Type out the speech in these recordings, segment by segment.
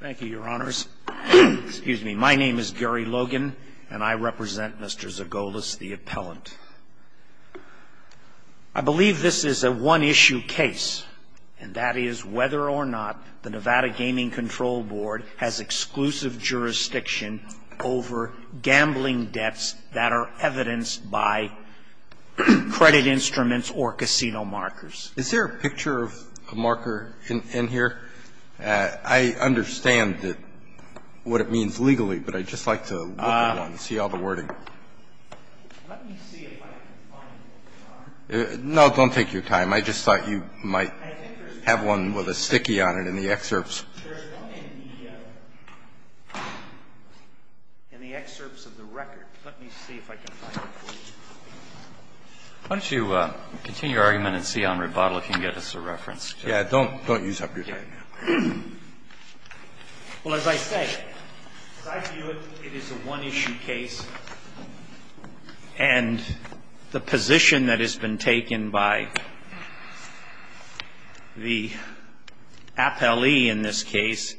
Thank you, Your Honors. Excuse me. My name is Gary Logan, and I represent Mr. Zoggolis, the appellant. I believe this is a one-issue case, and that is whether or not the Nevada Gaming Control Board has exclusive jurisdiction over gambling debts that are evidenced by credit instruments or casino markers. Is there a picture of a marker in here? I understand what it means legally, but I'd just like to look at one and see all the wording. Let me see if I can find one. No, don't take your time. I just thought you might have one with a sticky on it in the excerpts. There's one in the excerpts of the record. Let me see if I can find it for you. Why don't you continue your argument and see on rebuttal if you can get us a reference. Yeah, don't use up your time here. Well, as I say, as I view it, it is a one-issue case, and the position that has been taken by the appellee in this case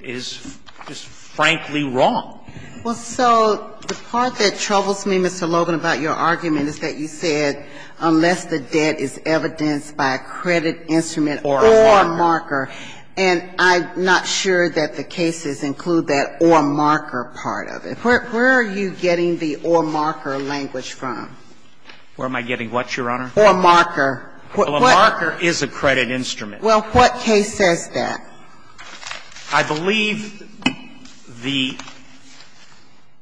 is just frankly wrong. Well, so the part that troubles me, Mr. Logan, about your argument is that you said unless the debt is evidenced by a credit instrument or a marker, and I'm not sure that the cases include that or marker part of it. Where are you getting the or marker language from? Where am I getting what, Your Honor? Or marker. Well, a marker is a credit instrument. Well, what case says that? I believe the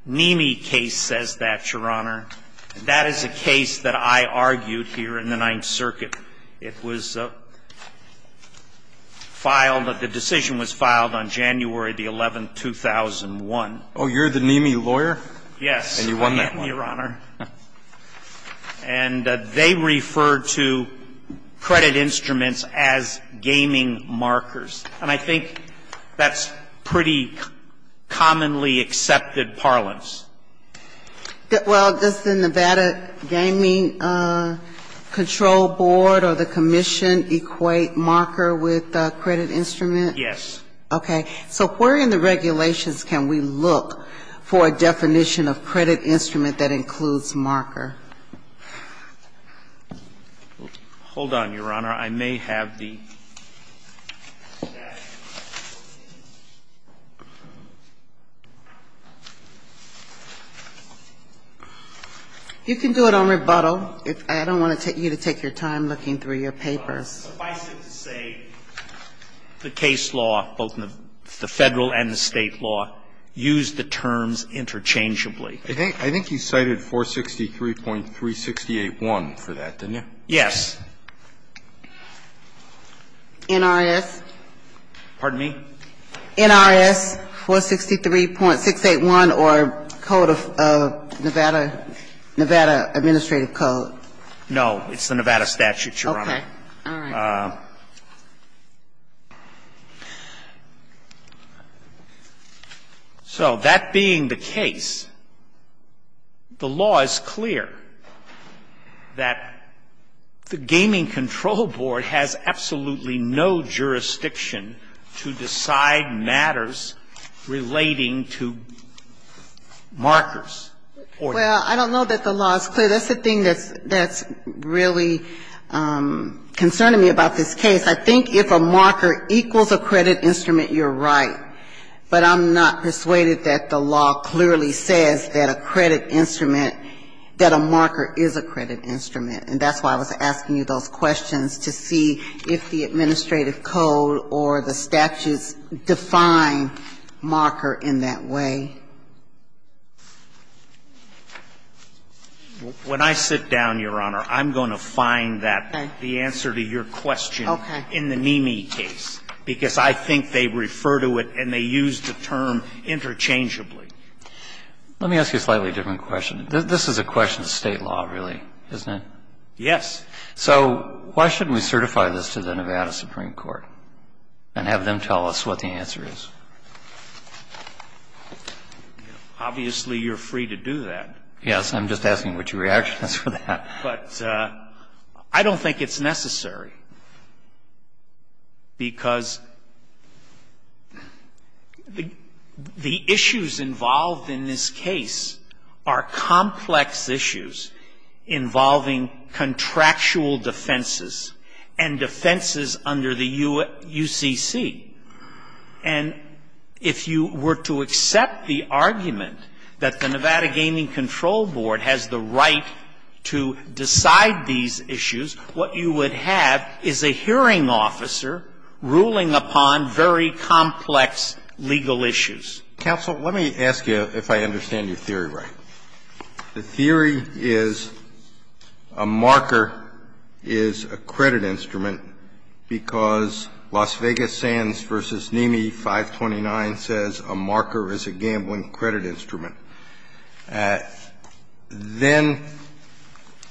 NEMI case says that, Your Honor. That is a case that I argued here in the Ninth Circuit. It was filed, the decision was filed on January the 11th, 2001. Oh, you're the NEMI lawyer? Yes. And you won that one. Well, the NEMI, Your Honor, and they refer to credit instruments as gaming markers, and I think that's pretty commonly accepted parlance. Well, does the Nevada Gaming Control Board or the commission equate marker with a credit instrument? Yes. Okay. So where in the regulations can we look for a definition of credit instrument that includes marker? Hold on, Your Honor. I may have the statute. You can do it on rebuttal. I don't want you to take your time looking through your papers. Suffice it to say, the case law, both the Federal and the State law, use the terms interchangeably. I think you cited 463.368.1 for that, didn't you? Yes. NRS? Pardon me? NRS 463.681 or Code of Nevada, Nevada Administrative Code. No. It's the Nevada statute, Your Honor. Okay. All right. So that being the case, the law is clear that the Gaming Control Board has absolutely no jurisdiction to decide matters relating to markers. Well, I don't know that the law is clear. That's the thing that's really concerning me about this case. I think if a marker equals a credit instrument, you're right. But I'm not persuaded that the law clearly says that a credit instrument, that a marker is a credit instrument. And that's why I was asking you those questions, to see if the administrative code or the statutes define marker in that way. When I sit down, Your Honor, I'm going to find that, the answer to your question, in the Mimi case, because I think they refer to it and they use the term interchangeably. Let me ask you a slightly different question. This is a question of State law, really, isn't it? Yes. So why shouldn't we certify this to the Nevada Supreme Court and have them tell us what the answer is? Obviously, you're free to do that. Yes. I'm just asking what your reaction is for that. But I don't think it's necessary, because the issues involved in this case are complex issues involving contractual defenses and defenses under the UCC. And if you were to accept the argument that the Nevada Gaming Control Board has the right to decide these issues, what you would have is a hearing officer ruling upon very complex legal issues. Counsel, let me ask you if I understand your theory right. The theory is a marker is a credit instrument because Las Vegas Sands v. Mimi 529 says a marker is a gambling credit instrument. Then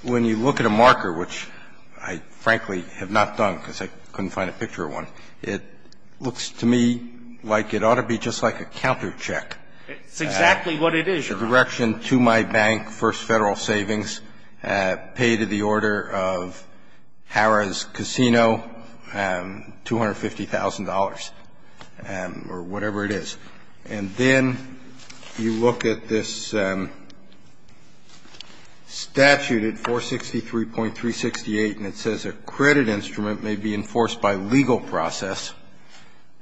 when you look at a marker, which I frankly have not done because I couldn't find a picture of one, it looks to me like it ought to be just like a countercheck. The direction to my bank, First Federal Savings, pay to the order of Harrah's Casino, $250,000 or whatever it is. And then you look at this statute at 463.368, and it says a credit instrument may be enforced by legal process,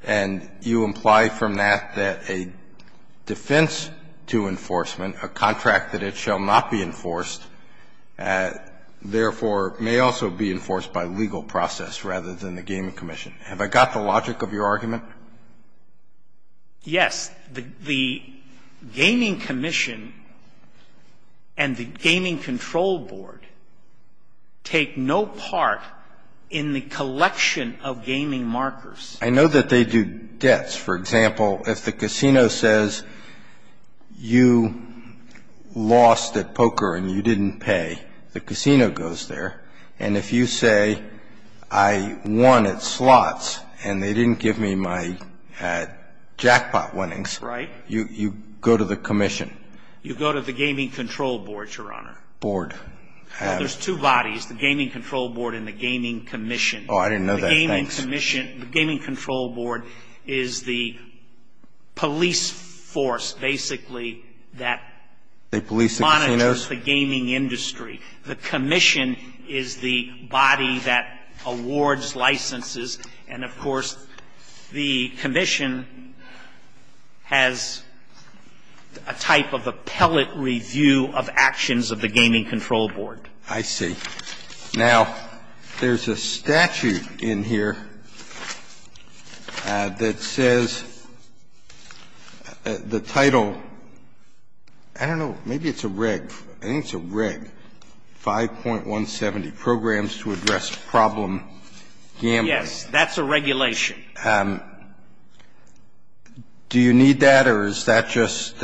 and you imply from that that a defense to enforcement, a contract that it shall not be enforced, therefore may also be enforced by legal process rather than the Gaming Commission. Have I got the logic of your argument? Yes. The Gaming Commission and the Gaming Control Board take no part in the collection of gaming markers. I know that they do debts. For example, if the casino says you lost at poker and you didn't pay, the casino goes there. And if you say I won at slots and they didn't give me my jackpot winnings. Right. You go to the commission. You go to the Gaming Control Board, Your Honor. Board. Well, there's two bodies, the Gaming Control Board and the Gaming Commission. Oh, I didn't know that. Thanks. The Gaming Control Board is the police force basically that monitors the gaming industry. The commission is the body that awards licenses. And, of course, the commission has a type of appellate review of actions of the Gaming Control Board. I see. Now, there's a statute in here that says the title, I don't know, maybe it's a reg. I think it's a reg. 5.170 programs to address problem gambling. Yes, that's a regulation. Do you need that or is that just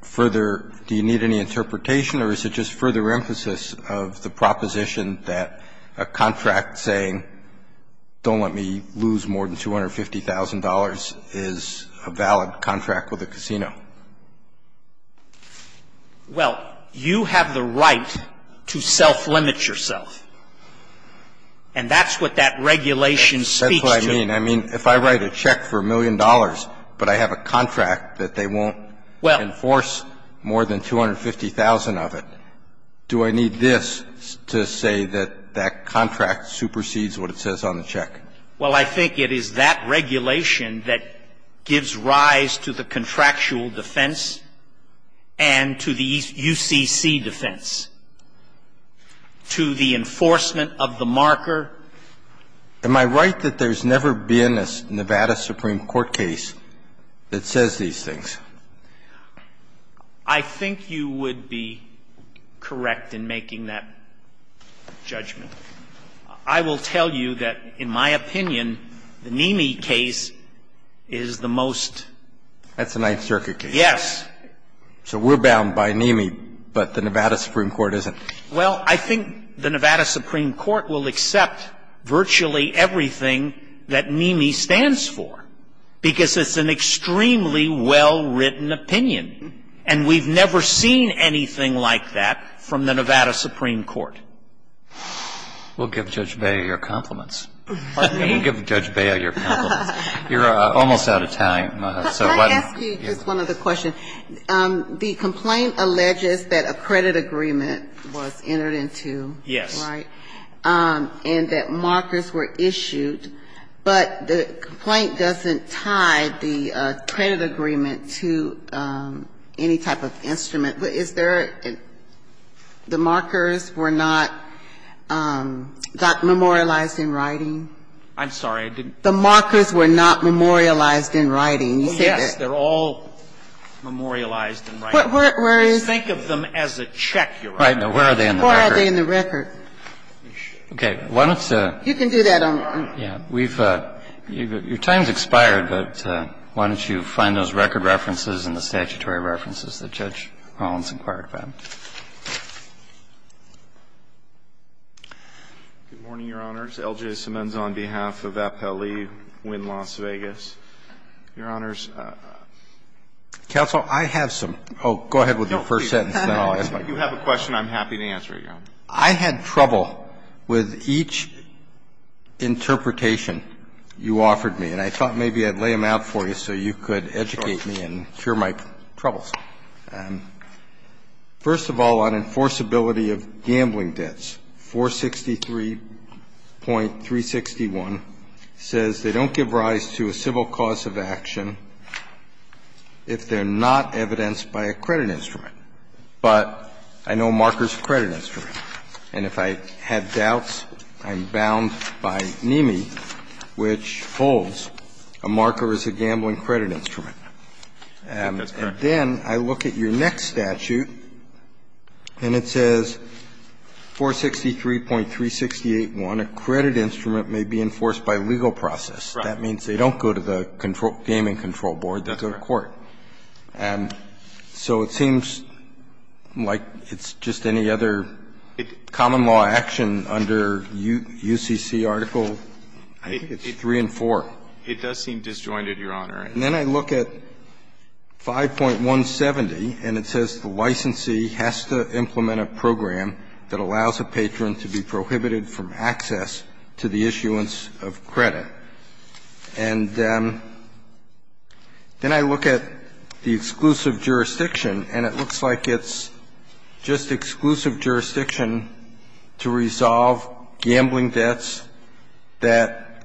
further, do you need any interpretation or is it just further emphasis of the proposition that a contract saying don't let me lose more than $250,000 is a valid contract with a casino? Well, you have the right to self-limit yourself. And that's what that regulation speaks to. That's what I mean. I mean, if I write a check for a million dollars but I have a contract that they won't enforce more than $250,000 of it, do I need this to say that that contract supersedes what it says on the check? Well, I think it is that regulation that gives rise to the contractual defense and to the UCC defense, to the enforcement of the marker. Am I right that there's never been a Nevada Supreme Court case that says these things? I think you would be correct in making that judgment. I will tell you that, in my opinion, the NEMI case is the most. That's a Ninth Circuit case. Yes. So we're bound by NEMI, but the Nevada Supreme Court isn't. Well, I think the Nevada Supreme Court will accept virtually everything that NEMI stands for because it's an extremely well-written opinion. And we've never seen anything like that from the Nevada Supreme Court. We'll give Judge Beyer your compliments. Pardon me? We'll give Judge Beyer your compliments. You're almost out of time. Can I ask you just one other question? Yes. The complaint alleges that a credit agreement was entered into. Yes. Right? And that markers were issued, but the complaint doesn't tie the credit agreement to any type of instrument. The markers were not memorialized in writing? I'm sorry. The markers were not memorialized in writing. Oh, yes. They're all memorialized in writing. Think of them as a check you're writing. Where are they in the record? Where are they in the record? Okay. Why don't you do that? Your time has expired, but why don't you find those record references and the statutory references that Judge Collins inquired about? Good morning, Your Honors. L.J. Simmons on behalf of Appellee Wynn Las Vegas. Your Honors. Counsel, I have some. Oh, go ahead with your first sentence, then I'll ask my question. If you have a question, I'm happy to answer it, Your Honor. I had trouble with each interpretation you offered me, and I thought maybe I'd lay them out for you so you could educate me and cure my troubles. First of all, on enforceability of gambling debts, 463.361 says they don't give rise to a civil cause of action if they're not evidenced by a credit instrument. But I know markers are a credit instrument. And if I had doubts, I'm bound by NME, which holds a marker is a gambling credit instrument. I think that's correct. And then I look at your next statute, and it says 463.368.1, a credit instrument may be enforced by legal process. Right. That means they don't go to the gaming control board, they go to court. That's correct. And so it seems like it's just any other common law action under UCC article 3 and 4. It does seem disjointed, Your Honor. And then I look at 5.170, and it says the licensee has to implement a program that allows a patron to be prohibited from access to the issuance of credit. That's correct. And then I look at the exclusive jurisdiction, and it looks like it's just exclusive jurisdiction to resolve gambling debts that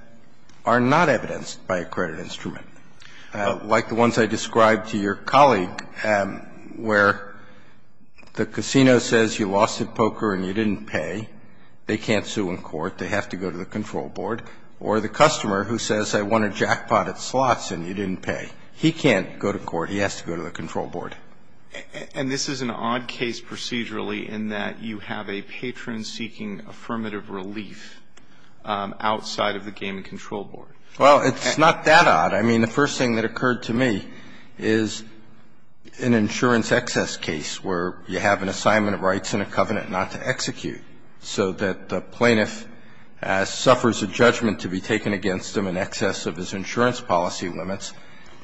are not evidenced by a credit instrument, like the ones I described to your colleague, where the casino says you lost at poker and you didn't pay. They can't sue in court. They have to go to the control board. Or the customer who says I won a jackpot at slots and you didn't pay. He can't go to court. He has to go to the control board. And this is an odd case procedurally in that you have a patron seeking affirmative relief outside of the gaming control board. Well, it's not that odd. I mean, the first thing that occurred to me is an insurance excess case where you have an assignment of rights and a covenant not to execute, so that the plaintiff suffers a judgment to be taken against him in excess of his insurance policy limits,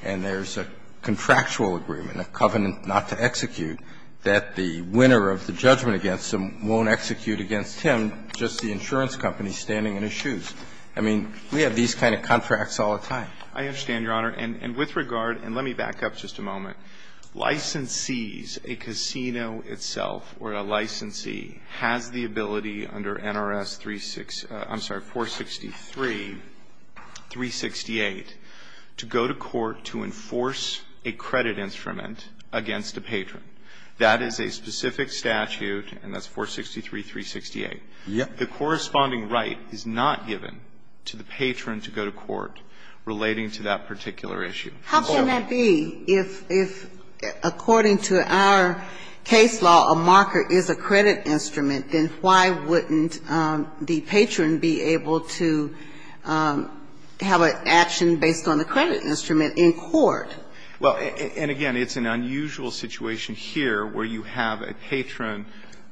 and there's a contractual agreement, a covenant not to execute, that the winner of the judgment against him won't execute against him, just the insurance company standing in his shoes. I mean, we have these kind of contracts all the time. I understand, Your Honor. And with regard, and let me back up just a moment. Licensees, a casino itself or a licensee, has the ability under NRS 366, I'm sorry, 463-368 to go to court to enforce a credit instrument against a patron. That is a specific statute, and that's 463-368. The corresponding right is not given to the patron to go to court relating to that particular issue. How can that be? If according to our case law, a marker is a credit instrument, then why wouldn't the patron be able to have an action based on the credit instrument in court? Well, and again, it's an unusual situation here where you have a patron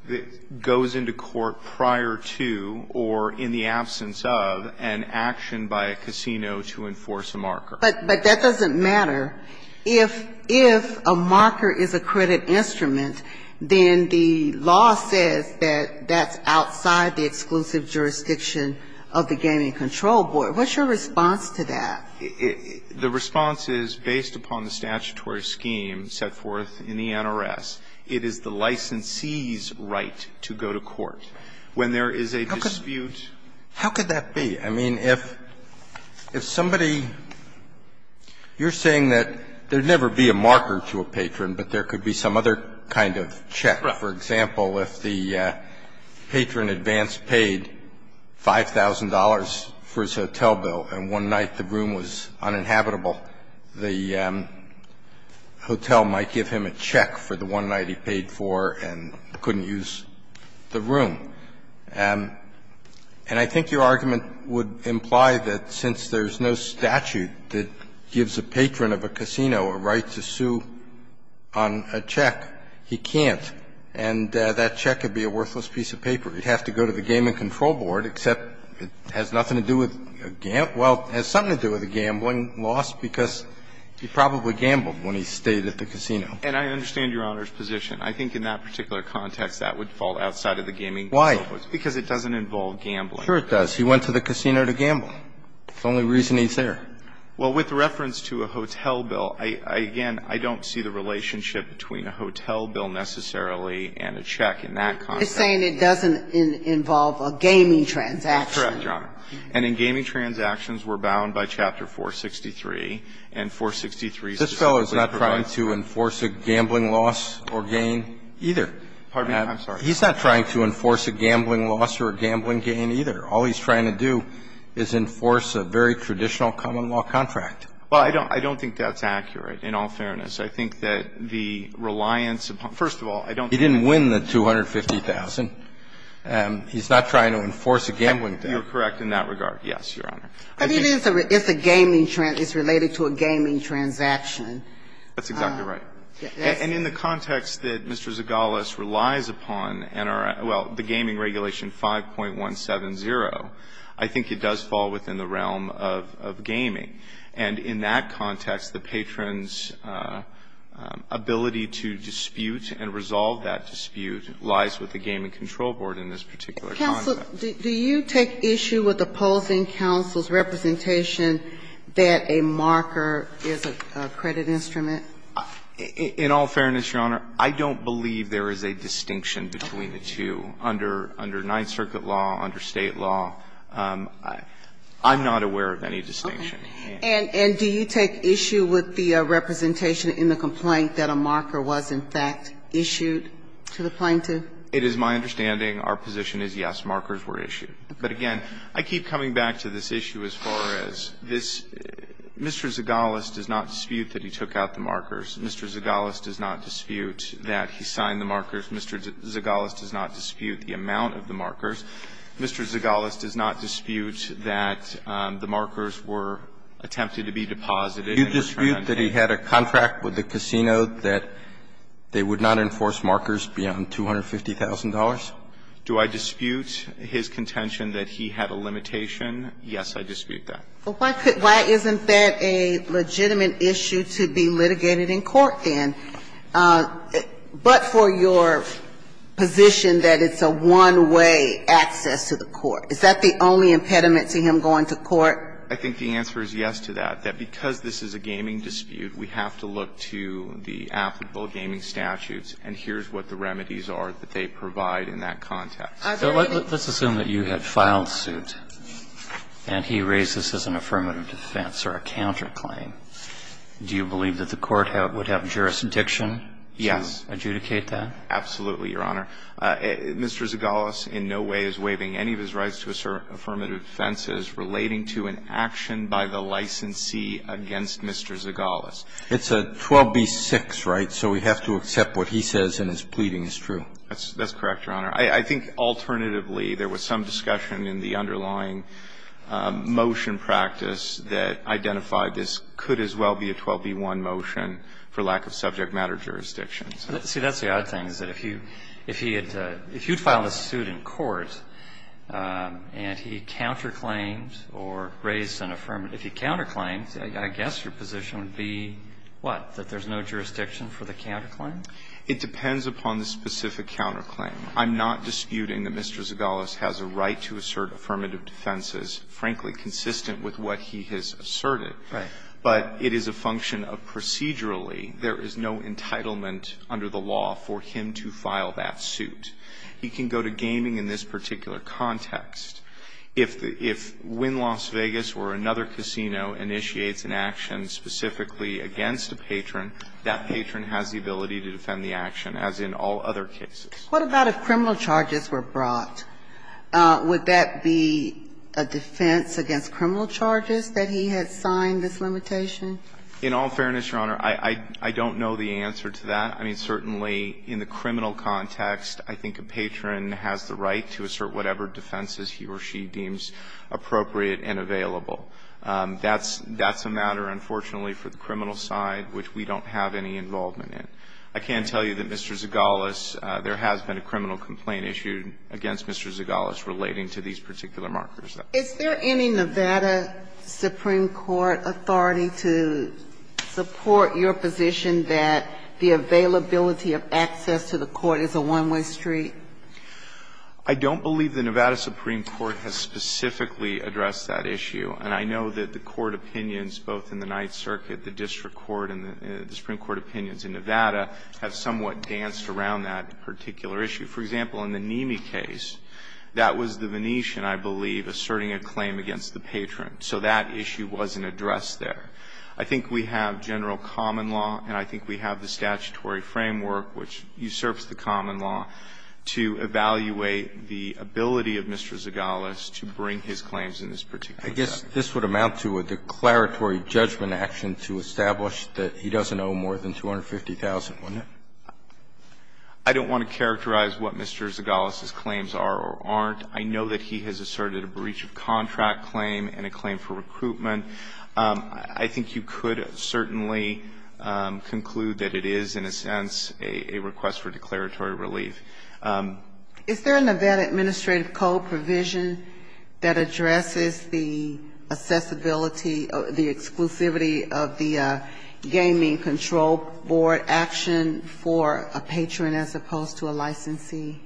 that goes into court prior to or in the absence of an action by a casino to enforce a marker. But that doesn't matter. If a marker is a credit instrument, then the law says that that's outside the exclusive jurisdiction of the Gaming Control Board. What's your response to that? The response is, based upon the statutory scheme set forth in the NRS, it is the licensee's right to go to court. When there is a dispute How could that be? I mean, if somebody you're saying that there'd never be a marker to a patron, but there could be some other kind of check. For example, if the patron advance paid $5,000 for his hotel bill and one night the room was uninhabitable, the hotel might give him a check for the one night he paid for and couldn't use the room. And I think your argument would imply that since there's no statute that gives a patron of a casino a right to sue on a check, he can't, and that check would be a worthless piece of paper. He'd have to go to the Gaming Control Board, except it has nothing to do with a gamble or something to do with a gambling loss because he probably gambled when he stayed at the casino. And I understand Your Honor's position. I think in that particular context that would fall outside of the gaming. Why? Because it doesn't involve gambling. Sure it does. He went to the casino to gamble. The only reason he's there. Well, with reference to a hotel bill, I, again, I don't see the relationship between a hotel bill necessarily and a check in that context. You're saying it doesn't involve a gaming transaction. That's correct, Your Honor. And in gaming transactions, we're bound by Chapter 463, and 463 specifically provides that. This fellow is not trying to enforce a gambling loss or gain either. Pardon me. I'm sorry. He's not trying to enforce a gambling loss or a gambling gain either. All he's trying to do is enforce a very traditional common law contract. Well, I don't think that's accurate, in all fairness. I think that the reliance upon, first of all, I don't think that's accurate. He didn't win the $250,000. He's not trying to enforce a gambling debt. You're correct in that regard, yes, Your Honor. But it is a gaming, it's related to a gaming transaction. That's exactly right. And in the context that Mr. Zagalos relies upon and our, well, the Gaming Regulation 5.170, I think it does fall within the realm of gaming. And in that context, the Patron's ability to dispute and resolve that dispute lies with the Gaming Control Board in this particular context. Counsel, do you take issue with opposing counsel's representation that a marker is a credit instrument? In all fairness, Your Honor, I don't believe there is a distinction between the two under Ninth Circuit law, under State law. I'm not aware of any distinction. And do you take issue with the representation in the complaint that a marker was, in fact, issued to the plaintiff? It is my understanding, our position is, yes, markers were issued. But again, I keep coming back to this issue as far as this Mr. Zagalos does not dispute that he took out the markers, Mr. Zagalos does not dispute that he signed the markers, Mr. Zagalos does not dispute the amount of the markers, Mr. Zagalos does not dispute that the markers were attempted to be deposited and returned. Do you dispute that he had a contract with the casino that they would not enforce markers beyond $250,000? Do I dispute his contention that he had a limitation? Yes, I dispute that. But why could why isn't that a legitimate issue to be litigated in court, then? But for your position that it's a one-way access to the court, is that the only impediment to him going to court? I think the answer is yes to that, that because this is a gaming dispute, we have to look to the applicable gaming statutes, and here's what the remedies are that they provide in that context. So let's assume that you had filed suit, and he raised this as an affirmative defense or a counterclaim. Do you believe that the court would have jurisdiction to adjudicate that? Yes, absolutely, Your Honor. Mr. Zagalos in no way is waiving any of his rights to assert affirmative defenses relating to an action by the licensee against Mr. Zagalos. It's a 12b-6, right? So we have to accept what he says in his pleading is true. That's correct, Your Honor. I think alternatively, there was some discussion in the underlying motion practice that identified this could as well be a 12b-1 motion for lack of subject matter jurisdictions. See, that's the odd thing, is that if you'd filed a suit in court, and he counterclaimed or raised an affirmative, if he counterclaimed, I guess your position would be what, that there's no jurisdiction for the counterclaim? It depends upon the specific counterclaim. I'm not disputing that Mr. Zagalos has a right to assert affirmative defenses, frankly, consistent with what he has asserted. Right. But it is a function of procedurally, there is no entitlement under the law for him to file that suit. He can go to gaming in this particular context. If Win Las Vegas or another casino initiates an action specifically against a patron, that patron has the ability to defend the action, as in all other cases. What about if criminal charges were brought? Would that be a defense against criminal charges, that he had signed this limitation? In all fairness, Your Honor, I don't know the answer to that. I mean, certainly in the criminal context, I think a patron has the right to assert whatever defenses he or she deems appropriate and available. That's a matter, unfortunately, for the criminal side, which we don't have any involvement in. I can tell you that Mr. Zagalos, there has been a criminal complaint issued against Mr. Zagalos relating to these particular markers. Is there any Nevada Supreme Court authority to support your position that the availability of access to the court is a one-way street? I don't believe the Nevada Supreme Court has specifically addressed that issue. And I know that the court opinions, both in the Ninth Circuit, the district court, and the supreme court opinions in Nevada have somewhat danced around that particular issue. For example, in the Nimi case, that was the Venetian, I believe, asserting a claim against the patron. So that issue wasn't addressed there. I think we have general common law and I think we have the statutory framework, which usurps the common law, to evaluate the ability of Mr. Zagalos to bring his claims in this particular case. I guess this would amount to a declaratory judgment action to establish that he doesn't owe more than $250,000, wouldn't it? I don't want to characterize what Mr. Zagalos' claims are or aren't. I know that he has asserted a breach of contract claim and a claim for recruitment. I think you could certainly conclude that it is, in a sense, a request for declaratory relief. Is there an event administrative code provision that addresses the accessibility or the exclusivity of the gaming control board action for a patron as opposed to a licensee?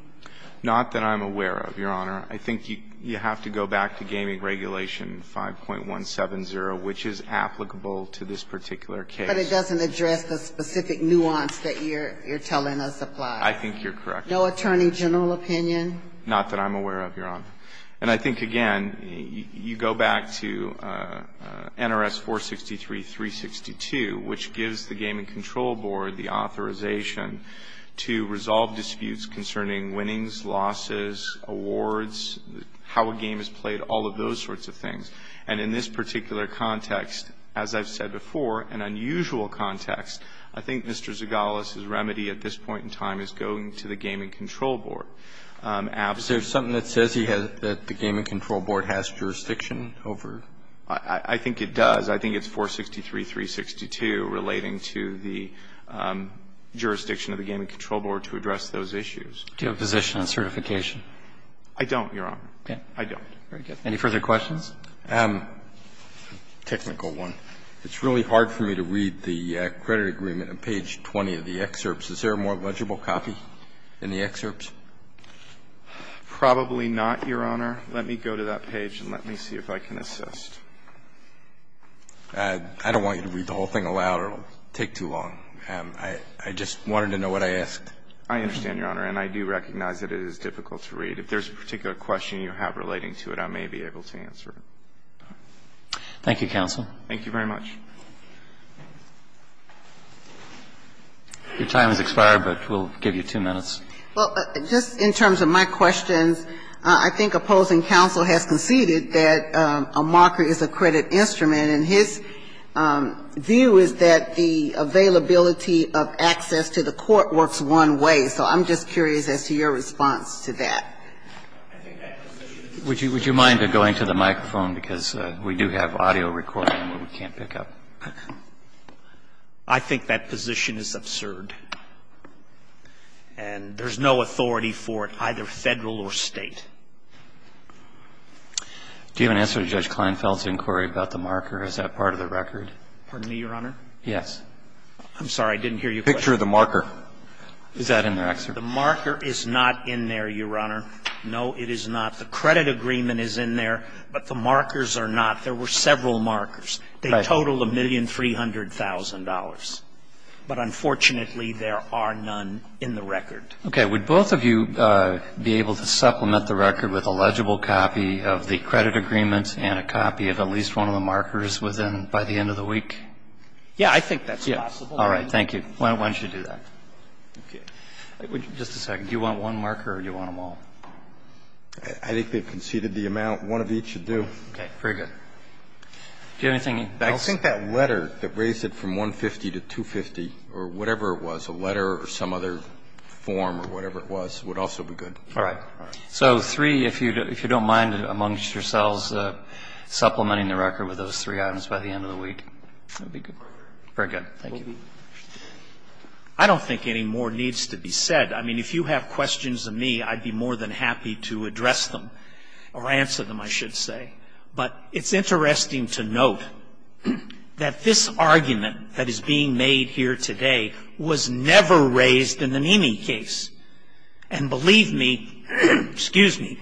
Not that I'm aware of, Your Honor. I think you have to go back to Gaming Regulation 5.170, which is applicable to this particular case. But it doesn't address the specific nuance that you're telling us applies. I think you're correct. No attorney general opinion? Not that I'm aware of, Your Honor. And I think, again, you go back to NRS 463-362, which gives the gaming control board the authorization to resolve disputes concerning winnings, losses, awards, how a game is played, all of those sorts of things. And in this particular context, as I've said before, an unusual context, I think Mr. Zagalos's remedy at this point in time is going to the gaming control board. Is there something that says he has the gaming control board has jurisdiction over it? I think it does. I think it's 463-362 relating to the jurisdiction of the gaming control board to address those issues. Do you have a position on certification? I don't, Your Honor. I don't. Any further questions? A technical one. It's really hard for me to read the credit agreement on page 20 of the excerpts. Is there a more legible copy in the excerpts? Probably not, Your Honor. Let me go to that page and let me see if I can assist. I don't want you to read the whole thing aloud or it will take too long. I just wanted to know what I asked. I understand, Your Honor, and I do recognize that it is difficult to read. If there's a particular question you have relating to it, I may be able to answer it. Thank you, counsel. Thank you very much. Your time has expired, but we'll give you two minutes. Well, just in terms of my questions, I think opposing counsel has conceded that a marker is a credit instrument, and his view is that the availability of access to the court works one way. So I'm just curious as to your response to that. Would you mind going to the microphone, because we do have audio recording? I think that position is absurd, and there's no authority for it, either Federal or State. Do you have an answer to Judge Kleinfeld's inquiry about the marker? Is that part of the record? Pardon me, Your Honor? Yes. I'm sorry, I didn't hear your question. The picture of the marker, is that in the excerpt? The marker is not in there, Your Honor. No, it is not. The credit agreement is in there, but the markers are not. There were several markers. They totaled $1,300,000, but unfortunately, there are none in the record. Okay. Would both of you be able to supplement the record with a legible copy of the credit agreement and a copy of at least one of the markers within by the end of the week? Yeah, I think that's possible. All right. Thank you. Why don't you do that? Okay. Just a second. Do you want one marker or do you want them all? I think they've conceded the amount. One of each should do. Okay. Very good. Do you have anything else? I think that letter that raised it from $150,000 to $250,000 or whatever it was, a letter or some other form or whatever it was, would also be good. All right. So three, if you don't mind amongst yourselves supplementing the record with those three items by the end of the week, that would be good. Very good. Thank you. I don't think any more needs to be said. I mean, if you have questions of me, I'd be more than happy to address them or answer them, I should say. But it's interesting to note that this argument that is being made here today was never raised in the Nene case. And believe me, excuse me,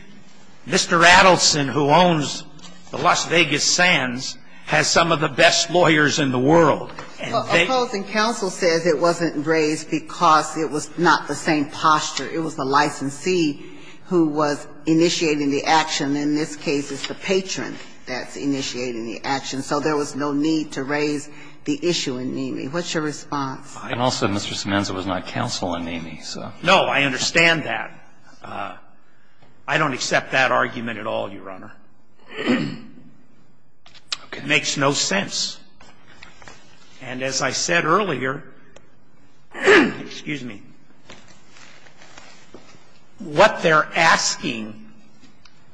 Mr. Adelson, who owns the Las Vegas Sands, has some of the best lawyers in the world. And they ---- Opposing counsel says it wasn't raised because it was not the same posture. It was the licensee who was initiating the action. In this case, it's the patron that's initiating the action. So there was no need to raise the issue in Nene. What's your response? And also, Mr. Semenza was not counsel in Nene, so. No, I understand that. I don't accept that argument at all, Your Honor. It makes no sense. And as I said earlier, excuse me. What they're asking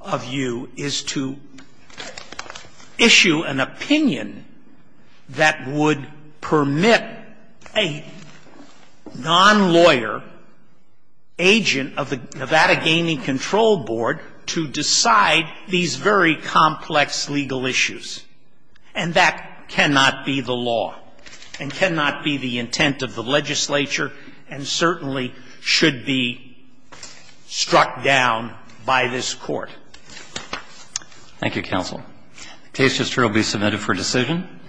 of you is to issue an opinion that would permit a non-lawyer agent of the Nevada Gaming Control Board to decide these very complex legal issues. And that cannot be the law and cannot be the intent of the legislature and certainly should be struck down by this Court. Thank you, counsel. The case just will be submitted for decision.